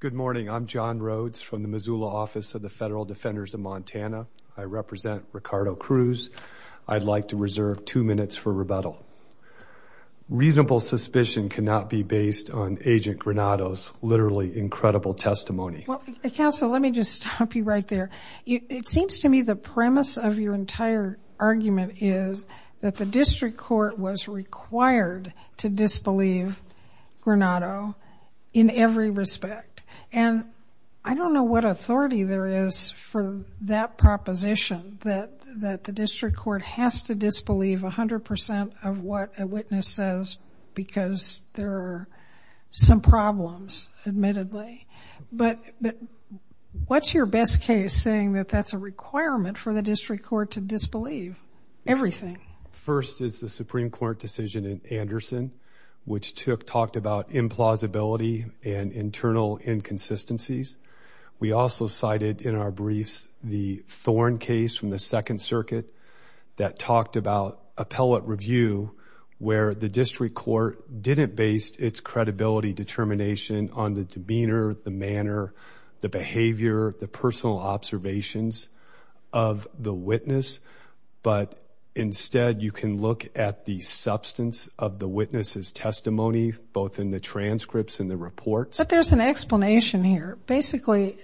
Good morning, I'm John Rhodes from the Missoula Office of the Federal Defenders of Montana. I represent Ricardo Cruz. I'd like to reserve two minutes for rebuttal. Reasonable suspicion cannot be based on Agent Granado's literally incredible testimony. Counsel, let me just stop you right there. It seems to me the premise of your entire argument is that the district court was required to disbelieve Granado in every respect. And I don't know what authority there is for that proposition, that the district court has to disbelieve 100% of what a witness says because there are some problems, admittedly. But what's your best case saying that that's a requirement for the district court to disbelieve everything? First is the Supreme Court decision in Anderson, which talked about implausibility and internal inconsistencies. We also cited in our briefs the Thorn case from the Second Circuit that talked about appellate review where the district court didn't base its credibility determination on the demeanor, the manner, the behavior, the personal observations of the witness, but instead you can look at the substance of the witness's testimony, both in the transcripts and the reports. But there's an explanation here. Basically,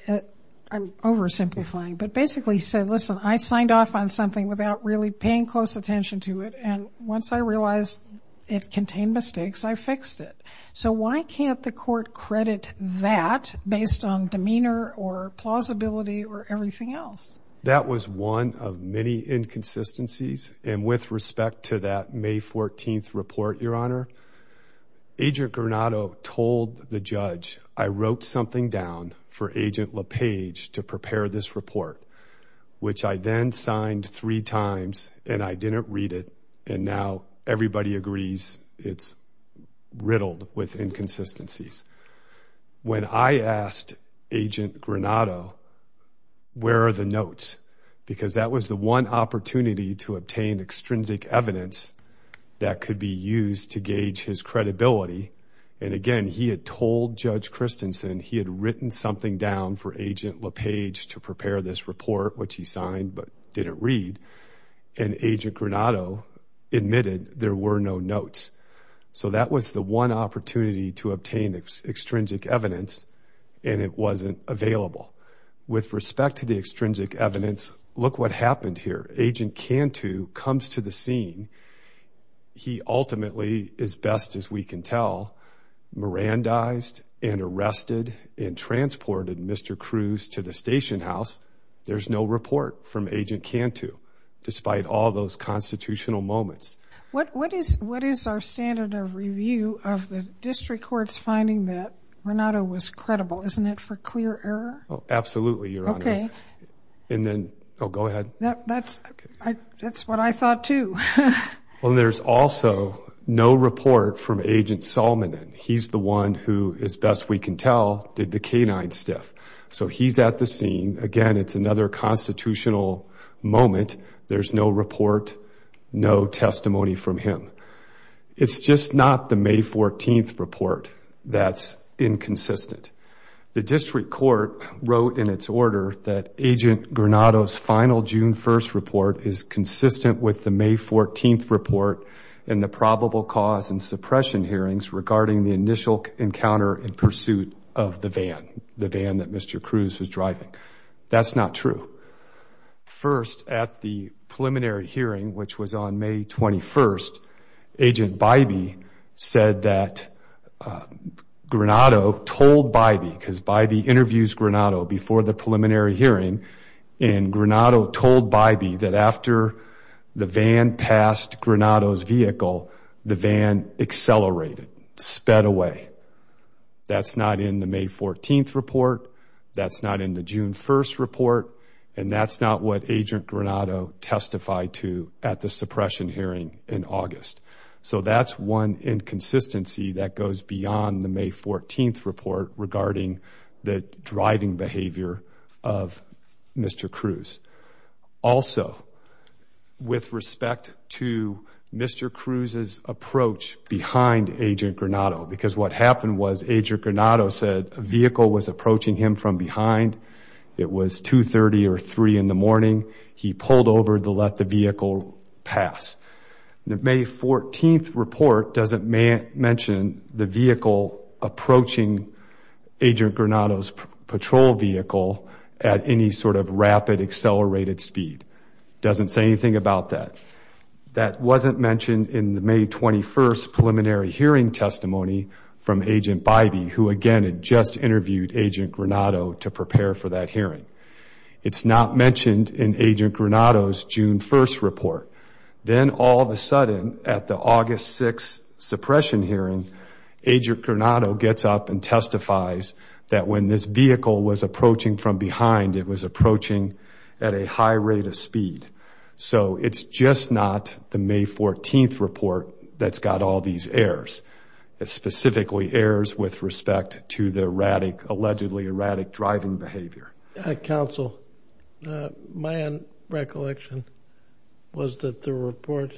I'm oversimplifying, but basically he said, listen, I signed off on something without really paying close attention to it, and once I realized it contained mistakes, I fixed it. So why can't the court credit that based on demeanor or plausibility or everything else? That was one of many inconsistencies. And with respect to that May 14th report, Your Honor, Agent Granado told the judge I wrote something down for Agent LePage to prepare this report, which I then signed three times and I didn't read it, and now everybody agrees it's riddled with inconsistencies. When I asked Agent Granado, where are the notes? Because that was the one opportunity to obtain extrinsic evidence that could be used to gauge his credibility. And again, he had told Judge Christensen he had written something down for Agent LePage to prepare this report, which he signed but didn't read, and Agent Granado admitted there were no notes. So that was the one opportunity to obtain extrinsic evidence, and it wasn't available. With respect to the extrinsic evidence, look what happened here. Agent Cantu comes to the scene. He ultimately, as best as we can tell, Mirandized and arrested and transported Mr. Cruz to the station house. There's no report from Agent Cantu, despite all those constitutional moments. What is our standard of review of the district court's finding that Granado was credible? Isn't it for clear error? Oh, absolutely, Your Honor. Okay. And then, oh, go ahead. That's what I thought too. Well, there's also no report from Agent Salmanan. He's the one who, as best we can tell, did the canine stiff. So he's at the scene. Again, it's another constitutional moment. There's no report, no testimony from him. It's just not the May 14th report that's inconsistent. The district court wrote in its order that Agent Granado's final June 1st report is consistent with the May 14th report and the probable cause and suppression hearings regarding the initial encounter in pursuit of the van, the van that Mr. Cruz was driving. That's not true. First, at the preliminary hearing, which was on May 21st, Agent Bybee said that Granado told Bybee, because Bybee interviews Granado before the preliminary hearing, and Granado told Bybee that after the van passed Granado's vehicle, the van accelerated, sped away. That's not in the May 14th report. That's not in the June 1st report. And that's not what Agent Granado testified to at the suppression hearing in August. So that's one inconsistency that goes beyond the May 14th report regarding the driving behavior of Mr. Cruz. Also, with respect to Mr. Cruz's approach behind Agent Granado, because what happened was Agent Granado said a vehicle was approaching him from behind. It was 2.30 or 3 in the morning. He pulled over to let the vehicle pass. The May 14th report doesn't mention the vehicle approaching Agent Granado's patrol vehicle at any sort of rapid accelerated speed. It doesn't say anything about that. That wasn't mentioned in the May 21st preliminary hearing testimony from Agent Bybee, who again had just interviewed Agent Granado to prepare for that hearing. It's not mentioned in Agent Granado's June 1st report. Then all of a sudden, at the August 6th suppression hearing, Agent Granado gets up and testifies that when this vehicle was approaching from behind, it was approaching at a high rate of speed. So it's just not the May 14th report that's got all these errors, specifically errors with respect to the allegedly erratic driving behavior. Counsel, my recollection was that the report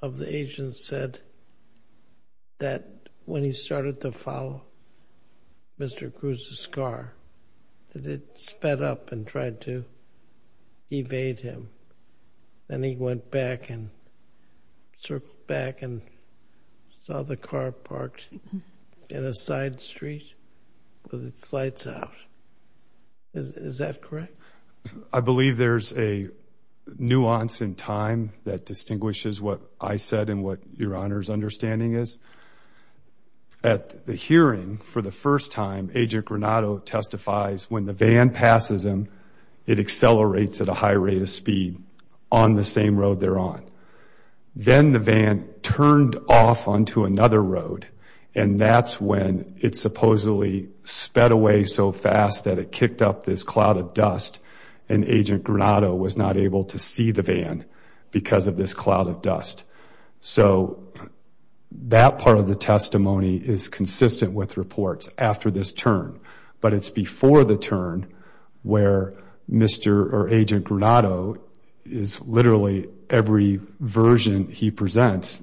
of the agent said that when he started to follow Mr. Cruz's car, that it sped up and tried to evade him. Then he went back and circled back and saw the car parked in a side street with its lights out. Is that correct? I believe there's a nuance in time that distinguishes what I said and what Your Honor's understanding is. At the hearing for the first time, Agent Granado testifies when the van passes him, it accelerates at a high rate of speed on the same road they're on. Then the van turned off onto another road, and that's when it supposedly sped away so fast that it kicked up this cloud of dust and Agent Granado was not able to see the van because of this cloud of dust. So that part of the testimony is consistent with reports after this turn, but it's before the turn where Agent Granado is literally, every version he presents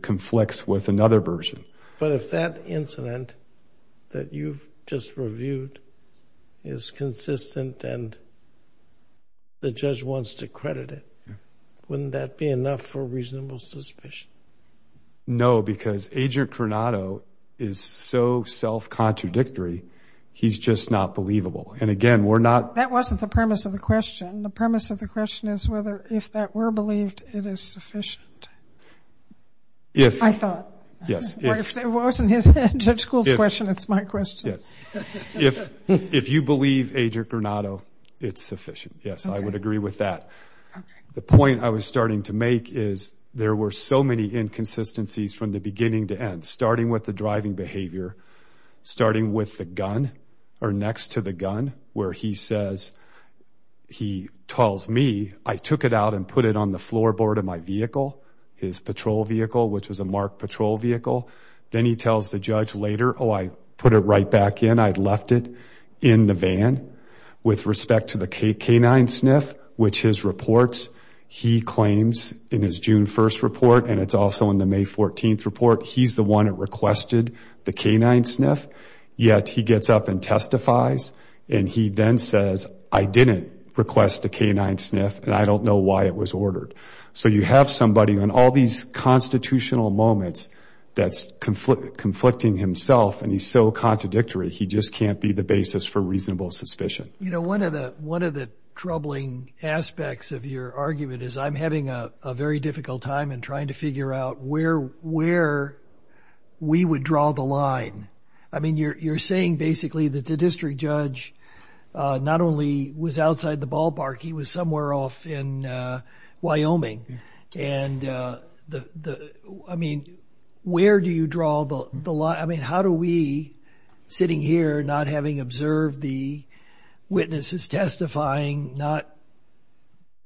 conflicts with another version. But if that incident that you've just reviewed is consistent and the judge wants to credit it, wouldn't that be enough for reasonable suspicion? No, because Agent Granado is so self-contradictory, he's just not believable. And again, we're not- That wasn't the premise of the question. The premise of the question is whether, if that were believed, it is sufficient. I thought. Yes. If it wasn't his end of school question, it's my question. Yes. If you believe Agent Granado, it's sufficient. Yes, I would agree with that. The point I was starting to make is there were so many inconsistencies from the beginning to end, starting with the driving behavior, starting with the gun or next to the gun where he says, he tells me, I took it out and put it on the floorboard of my vehicle, his patrol vehicle, which was a MARC patrol vehicle. Then he tells the judge later, oh, I put it right back in. I left it in the van. With respect to the canine sniff, which his reports, he claims in his June 1st report, and it's also in the May 14th report, he's the one that requested the canine sniff. Yet he gets up and testifies, and he then says, I didn't request the canine sniff, and I don't know why it was ordered. So you have somebody on all these constitutional moments that's conflicting himself, and he's so contradictory, he just can't be the basis for reasonable suspicion. You know, one of the troubling aspects of your argument is I'm having a very difficult time I mean, you're saying basically that the district judge not only was outside the ballpark, he was somewhere off in Wyoming. And I mean, where do you draw the line? I mean, how do we, sitting here, not having observed the witnesses testifying, not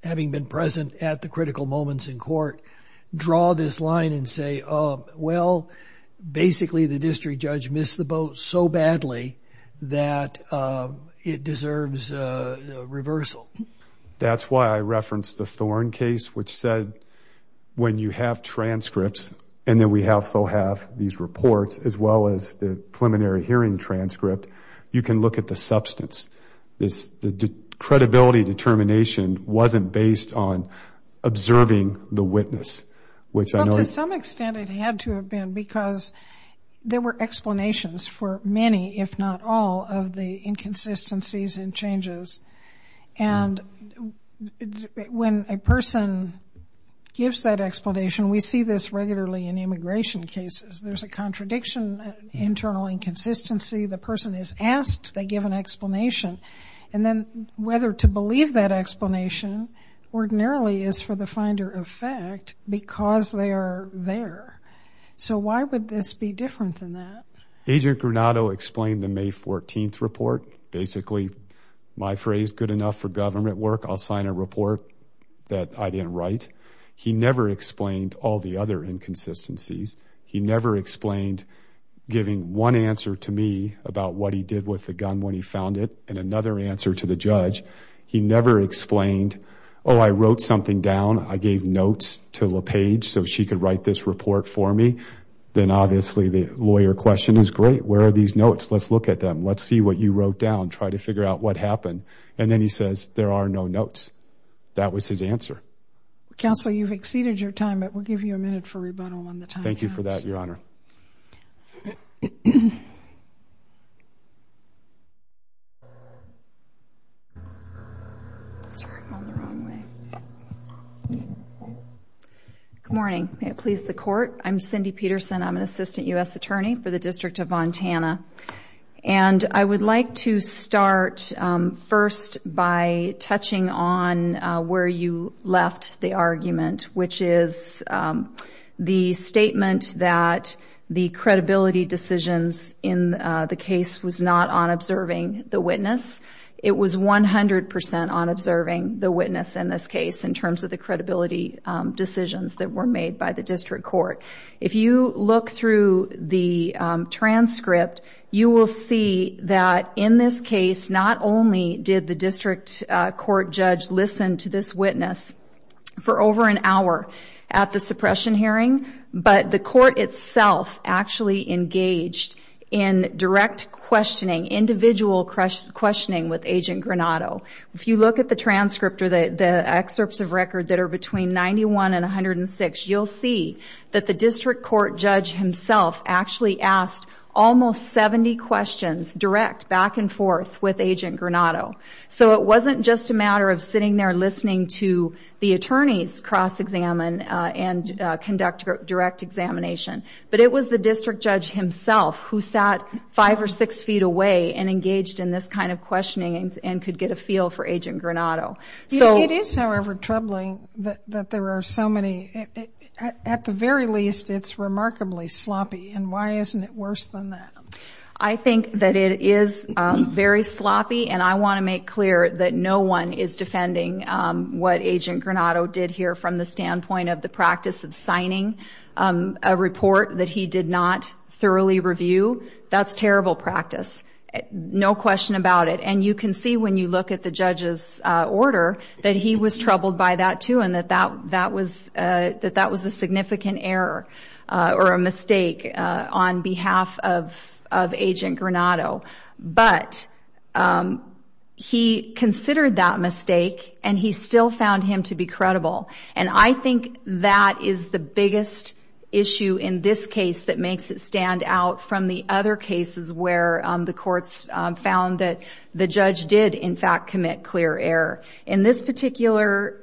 having been present at the critical moments in court, draw this line and say, well, basically the district judge missed the boat so badly that it deserves reversal. That's why I referenced the Thorne case, which said when you have transcripts, and then we have FOHAF, these reports, as well as the preliminary hearing transcript, you can look at the substance. The credibility determination wasn't based on observing the witness, which I know is to some extent it had to have been because there were explanations for many, if not all, of the inconsistencies and changes. And when a person gives that explanation, we see this regularly in immigration cases. There's a contradiction, internal inconsistency. The person is asked, they give an explanation. And then whether to believe that explanation ordinarily is for the finder of fact because they are there. So why would this be different than that? Agent Granato explained the May 14th report. Basically my phrase, good enough for government work, I'll sign a report that I didn't write. He never explained all the other inconsistencies. He never explained giving one answer to me about what he did with the gun when he found it and another answer to the judge. He never explained, oh, I wrote something down. I gave notes to LaPage so she could write this report for me. Then obviously the lawyer question is, great, where are these notes? Let's look at them. Let's see what you wrote down. Try to figure out what happened. And then he says, there are no notes. That was his answer. Counsel, you've exceeded your time, but we'll give you a minute for rebuttal on the time. Thank you for that, Your Honor. Good morning. May it please the Court. I'm Cindy Peterson. I'm an Assistant U.S. Attorney for the District of Montana. And I would like to start first by touching on where you left the argument, which is the statement that the credibility decisions in the case was not on observing the witness. It was 100% on observing the witness in this case in terms of the credibility decisions that were made by the district court. If you look through the transcript, you will see that in this case not only did the district court judge listen to this witness for over an hour at the suppression hearing, but the court itself actually engaged in direct questioning, individual questioning with Agent Granato. If you look at the transcript or the excerpts of record that are between 91 and 106, you'll see that the district court judge himself actually asked almost 70 questions, direct, back and forth, with Agent Granato. So it wasn't just a matter of sitting there listening to the attorneys cross-examine and conduct direct examination. But it was the district judge himself who sat five or six feet away and engaged in this kind of questioning and could get a feel for Agent Granato. It is, however, troubling that there are so many. At the very least, it's remarkably sloppy. And why isn't it worse than that? I think that it is very sloppy, and I want to make clear that no one is defending what Agent Granato did here from the standpoint of the practice of signing a report that he did not thoroughly review. That's terrible practice, no question about it. And you can see when you look at the judge's order that he was troubled by that too and that that was a significant error or a mistake on behalf of Agent Granato. But he considered that mistake, and he still found him to be credible. And I think that is the biggest issue in this case that makes it stand out from the other cases where the courts found that the judge did, in fact, commit clear error. In this particular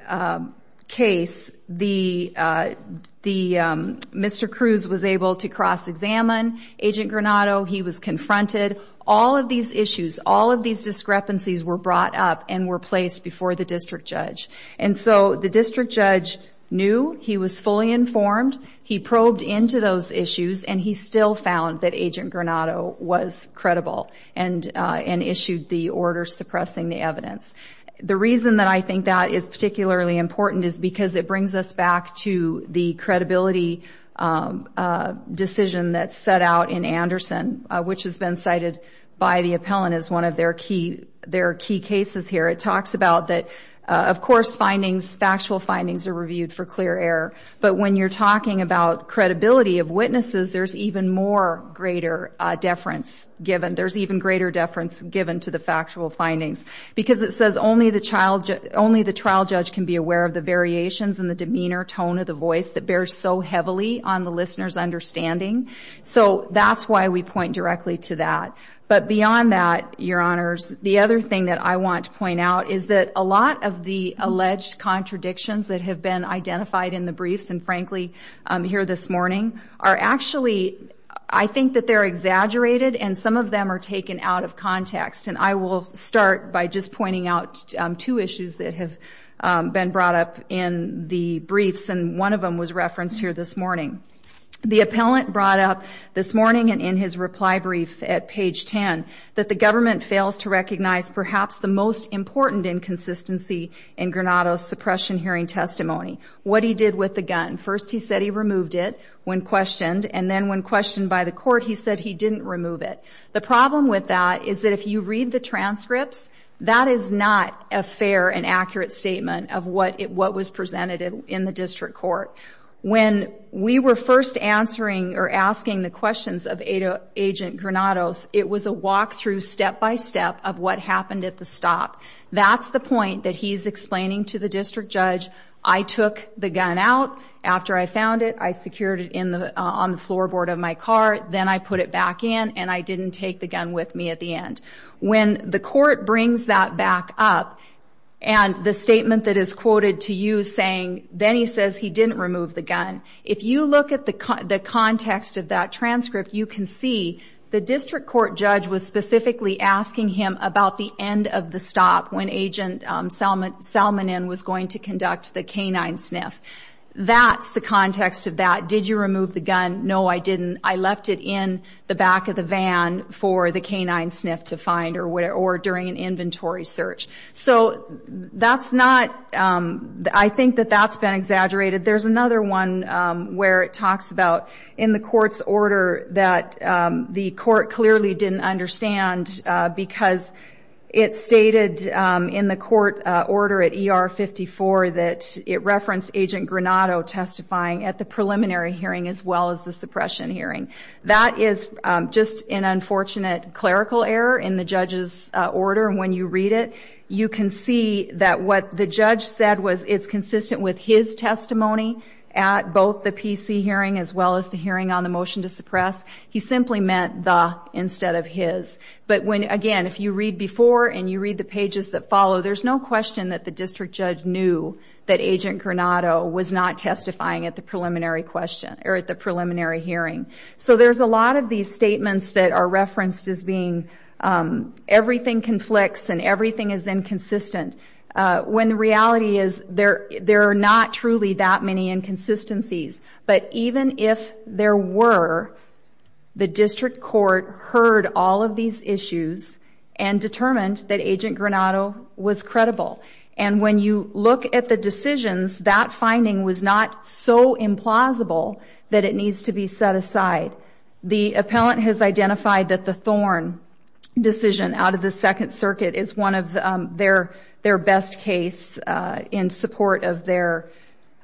case, Mr. Cruz was able to cross-examine Agent Granato. He was confronted. All of these issues, all of these discrepancies were brought up and were placed before the district judge. And so the district judge knew he was fully informed. He probed into those issues, and he still found that Agent Granato was credible and issued the order suppressing the evidence. The reason that I think that is particularly important is because it brings us back to the credibility decision that's set out in Anderson, which has been cited by the appellant as one of their key cases here. It talks about that, of course, findings, factual findings are reviewed for clear error. But when you're talking about credibility of witnesses, there's even more greater deference given. There's even greater deference given to the factual findings because it says only the trial judge can be aware of the variations in the demeanor, tone of the voice that bears so heavily on the listener's understanding. So that's why we point directly to that. But beyond that, Your Honors, the other thing that I want to point out is that a lot of the alleged contradictions that have been identified in the briefs and, frankly, here this morning are actually, I think that they're exaggerated and some of them are taken out of context. And I will start by just pointing out two issues that have been brought up in the briefs, and one of them was referenced here this morning. The appellant brought up this morning and in his reply brief at page 10 that the government fails to recognize perhaps the most important inconsistency in Granado's suppression hearing testimony, what he did with the gun. First he said he removed it when questioned, and then when questioned by the court he said he didn't remove it. The problem with that is that if you read the transcripts, that is not a fair and accurate statement of what was presented in the district court. When we were first answering or asking the questions of Agent Granado, it was a walk-through step-by-step of what happened at the stop. That's the point that he's explaining to the district judge, I took the gun out after I found it, I secured it on the floorboard of my car, then I put it back in and I didn't take the gun with me at the end. When the court brings that back up and the statement that is quoted to you saying, then he says he didn't remove the gun. If you look at the context of that transcript, you can see the district court judge was specifically asking him about the end of the stop when Agent Salmonin was going to conduct the canine sniff. That's the context of that. Did you remove the gun? No, I didn't. I left it in the back of the van for the canine sniff to find or during an inventory search. I think that that's been exaggerated. There's another one where it talks about in the court's order that the court clearly didn't understand because it stated in the court order at ER 54 that it referenced Agent Granado testifying at the preliminary hearing as well as the suppression hearing. That is just an unfortunate clerical error in the judge's order. When you read it, you can see that what the judge said was it's consistent with his testimony at both the PC hearing as well as the hearing on the motion to suppress. He simply meant the instead of his. Again, if you read before and you read the pages that follow, there's no question that the district judge knew that Agent Granado was not testifying at the preliminary hearing. So there's a lot of these statements that are referenced as being everything conflicts and everything is inconsistent when the reality is there are not truly that many inconsistencies. But even if there were, the district court heard all of these issues and determined that Agent Granado was credible. And when you look at the decisions, that finding was not so implausible that it needs to be set aside. The appellant has identified that the Thorn decision out of the Second Circuit is one of their best case in support of their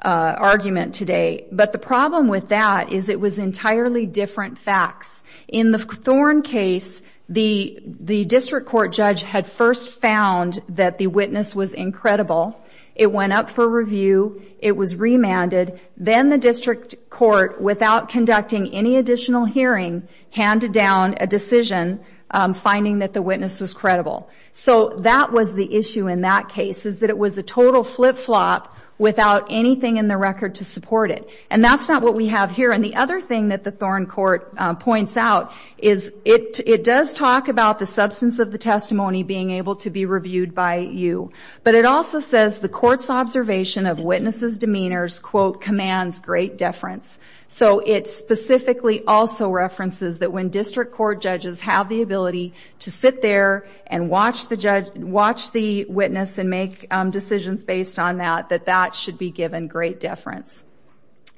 argument today. But the problem with that is it was entirely different facts. In the Thorn case, the district court judge had first found that the witness was incredible. It went up for review. It was remanded. Then the district court, without conducting any additional hearing, handed down a decision finding that the witness was credible. So that was the issue in that case is that it was a total flip-flop without anything in the record to support it. And that's not what we have here. And the other thing that the Thorn court points out is it does talk about the substance of the testimony being able to be reviewed by you. But it also says the court's observation of witnesses' demeanors, quote, commands great deference. So it specifically also references that when district court judges have the ability to sit there and watch the witness and make decisions based on that, that that should be given great deference.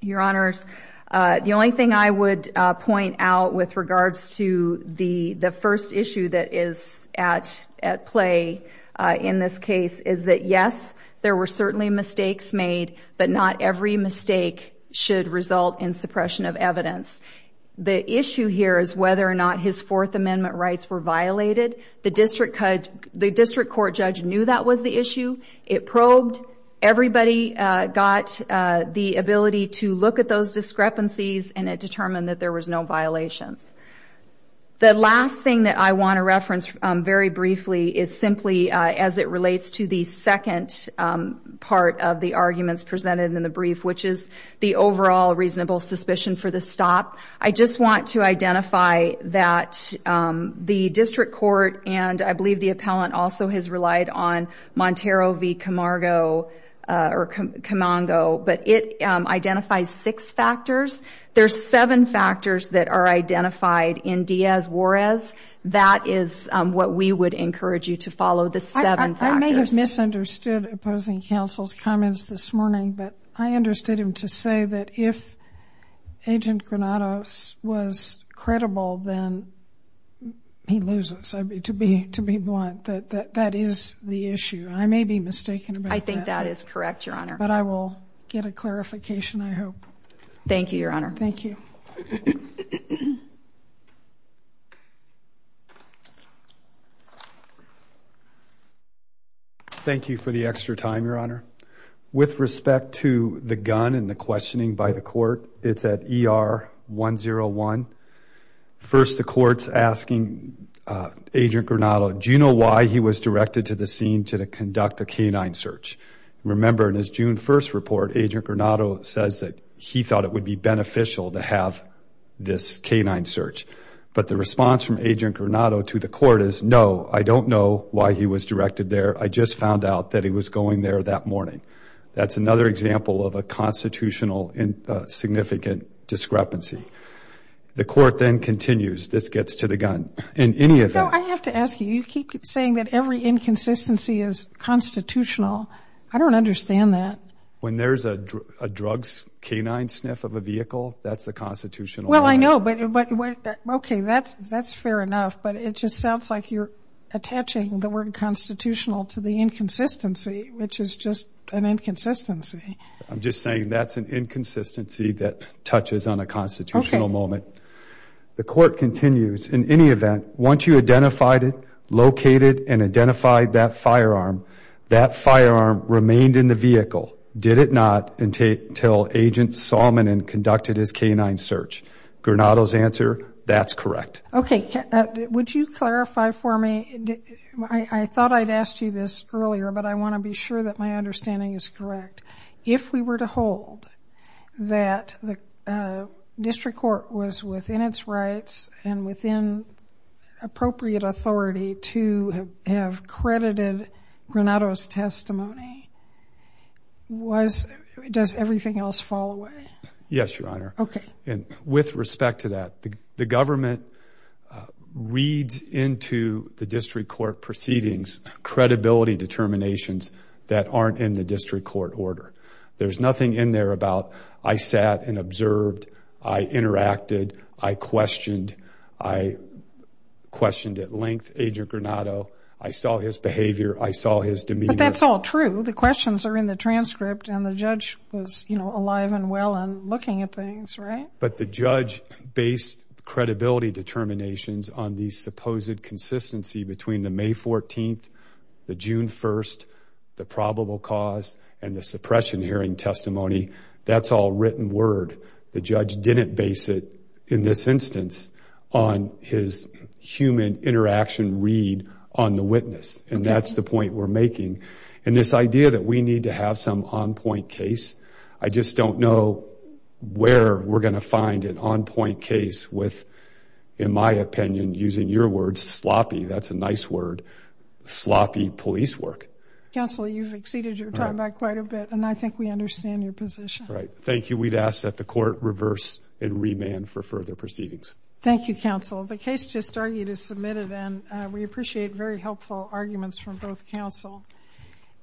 Your Honors, the only thing I would point out with regards to the first issue that is at play in this case is that yes, there were certainly mistakes made, but not every mistake should result in suppression of evidence. The issue here is whether or not his Fourth Amendment rights were violated. The district court judge knew that was the issue. It probed. Everybody got the ability to look at those discrepancies, and it determined that there was no violations. The last thing that I want to reference very briefly is simply as it relates to the second part of the arguments presented in the brief, which is the overall reasonable suspicion for the stop. I just want to identify that the district court and I believe the appellant also has relied on Comango, but it identifies six factors. There's seven factors that are identified in Diaz-Juarez. That is what we would encourage you to follow, the seven factors. I may have misunderstood opposing counsel's comments this morning, but I understood him to say that if Agent Granados was credible, then he loses, to be blunt, that that is the issue. I may be mistaken about that. I think that is correct, Your Honor. But I will get a clarification, I hope. Thank you, Your Honor. Thank you. Thank you for the extra time, Your Honor. With respect to the gun and the questioning by the court, it's at ER 101. First, the court's asking Agent Granado, do you know why he was directed to the scene to conduct a canine search? Remember, in his June 1st report, Agent Granado says that he thought it would be beneficial to have this canine search. But the response from Agent Granado to the court is, no, I don't know why he was directed there. I just found out that he was going there that morning. That's another example of a constitutional significant discrepancy. The court then continues. This gets to the gun. In any event. No, I have to ask you. You keep saying that every inconsistency is constitutional. I don't understand that. When there's a drugs canine sniff of a vehicle, that's the constitutional. Well, I know. But, okay, that's fair enough. But it just sounds like you're attaching the word constitutional to the inconsistency, which is just an inconsistency. I'm just saying that's an inconsistency that touches on a constitutional moment. The court continues. In any event, once you identified it, located and identified that firearm, that firearm remained in the vehicle, did it not, until Agent Solomon conducted his canine search. Granado's answer, that's correct. Okay. Would you clarify for me? I thought I'd asked you this earlier, but I want to be sure that my understanding is correct. If we were to hold that the district court was within its rights and within appropriate authority to have credited Granado's testimony, does everything else fall away? Yes, Your Honor. Okay. And with respect to that, the government reads into the district court proceedings credibility determinations that aren't in the district court order. There's nothing in there about I sat and observed, I interacted, I questioned. I questioned at length Agent Granado. I saw his behavior. I saw his demeanor. But that's all true. The questions are in the transcript, and the judge was, you know, alive and well and looking at things, right? But the judge based credibility determinations on the supposed consistency between the May 14th, the June 1st, the probable cause, and the suppression hearing testimony. That's all written word. The judge didn't base it in this instance on his human interaction read on the witness, and that's the point we're making. And this idea that we need to have some on-point case, I just don't know where we're going to find an on-point case with, in my opinion, using your word, sloppy. That's a nice word, sloppy police work. Counsel, you've exceeded your time by quite a bit, and I think we understand your position. Right. Thank you. We'd ask that the court reverse and remand for further proceedings. Thank you, counsel. The case just argued is submitted, and we appreciate very helpful arguments from both counsel.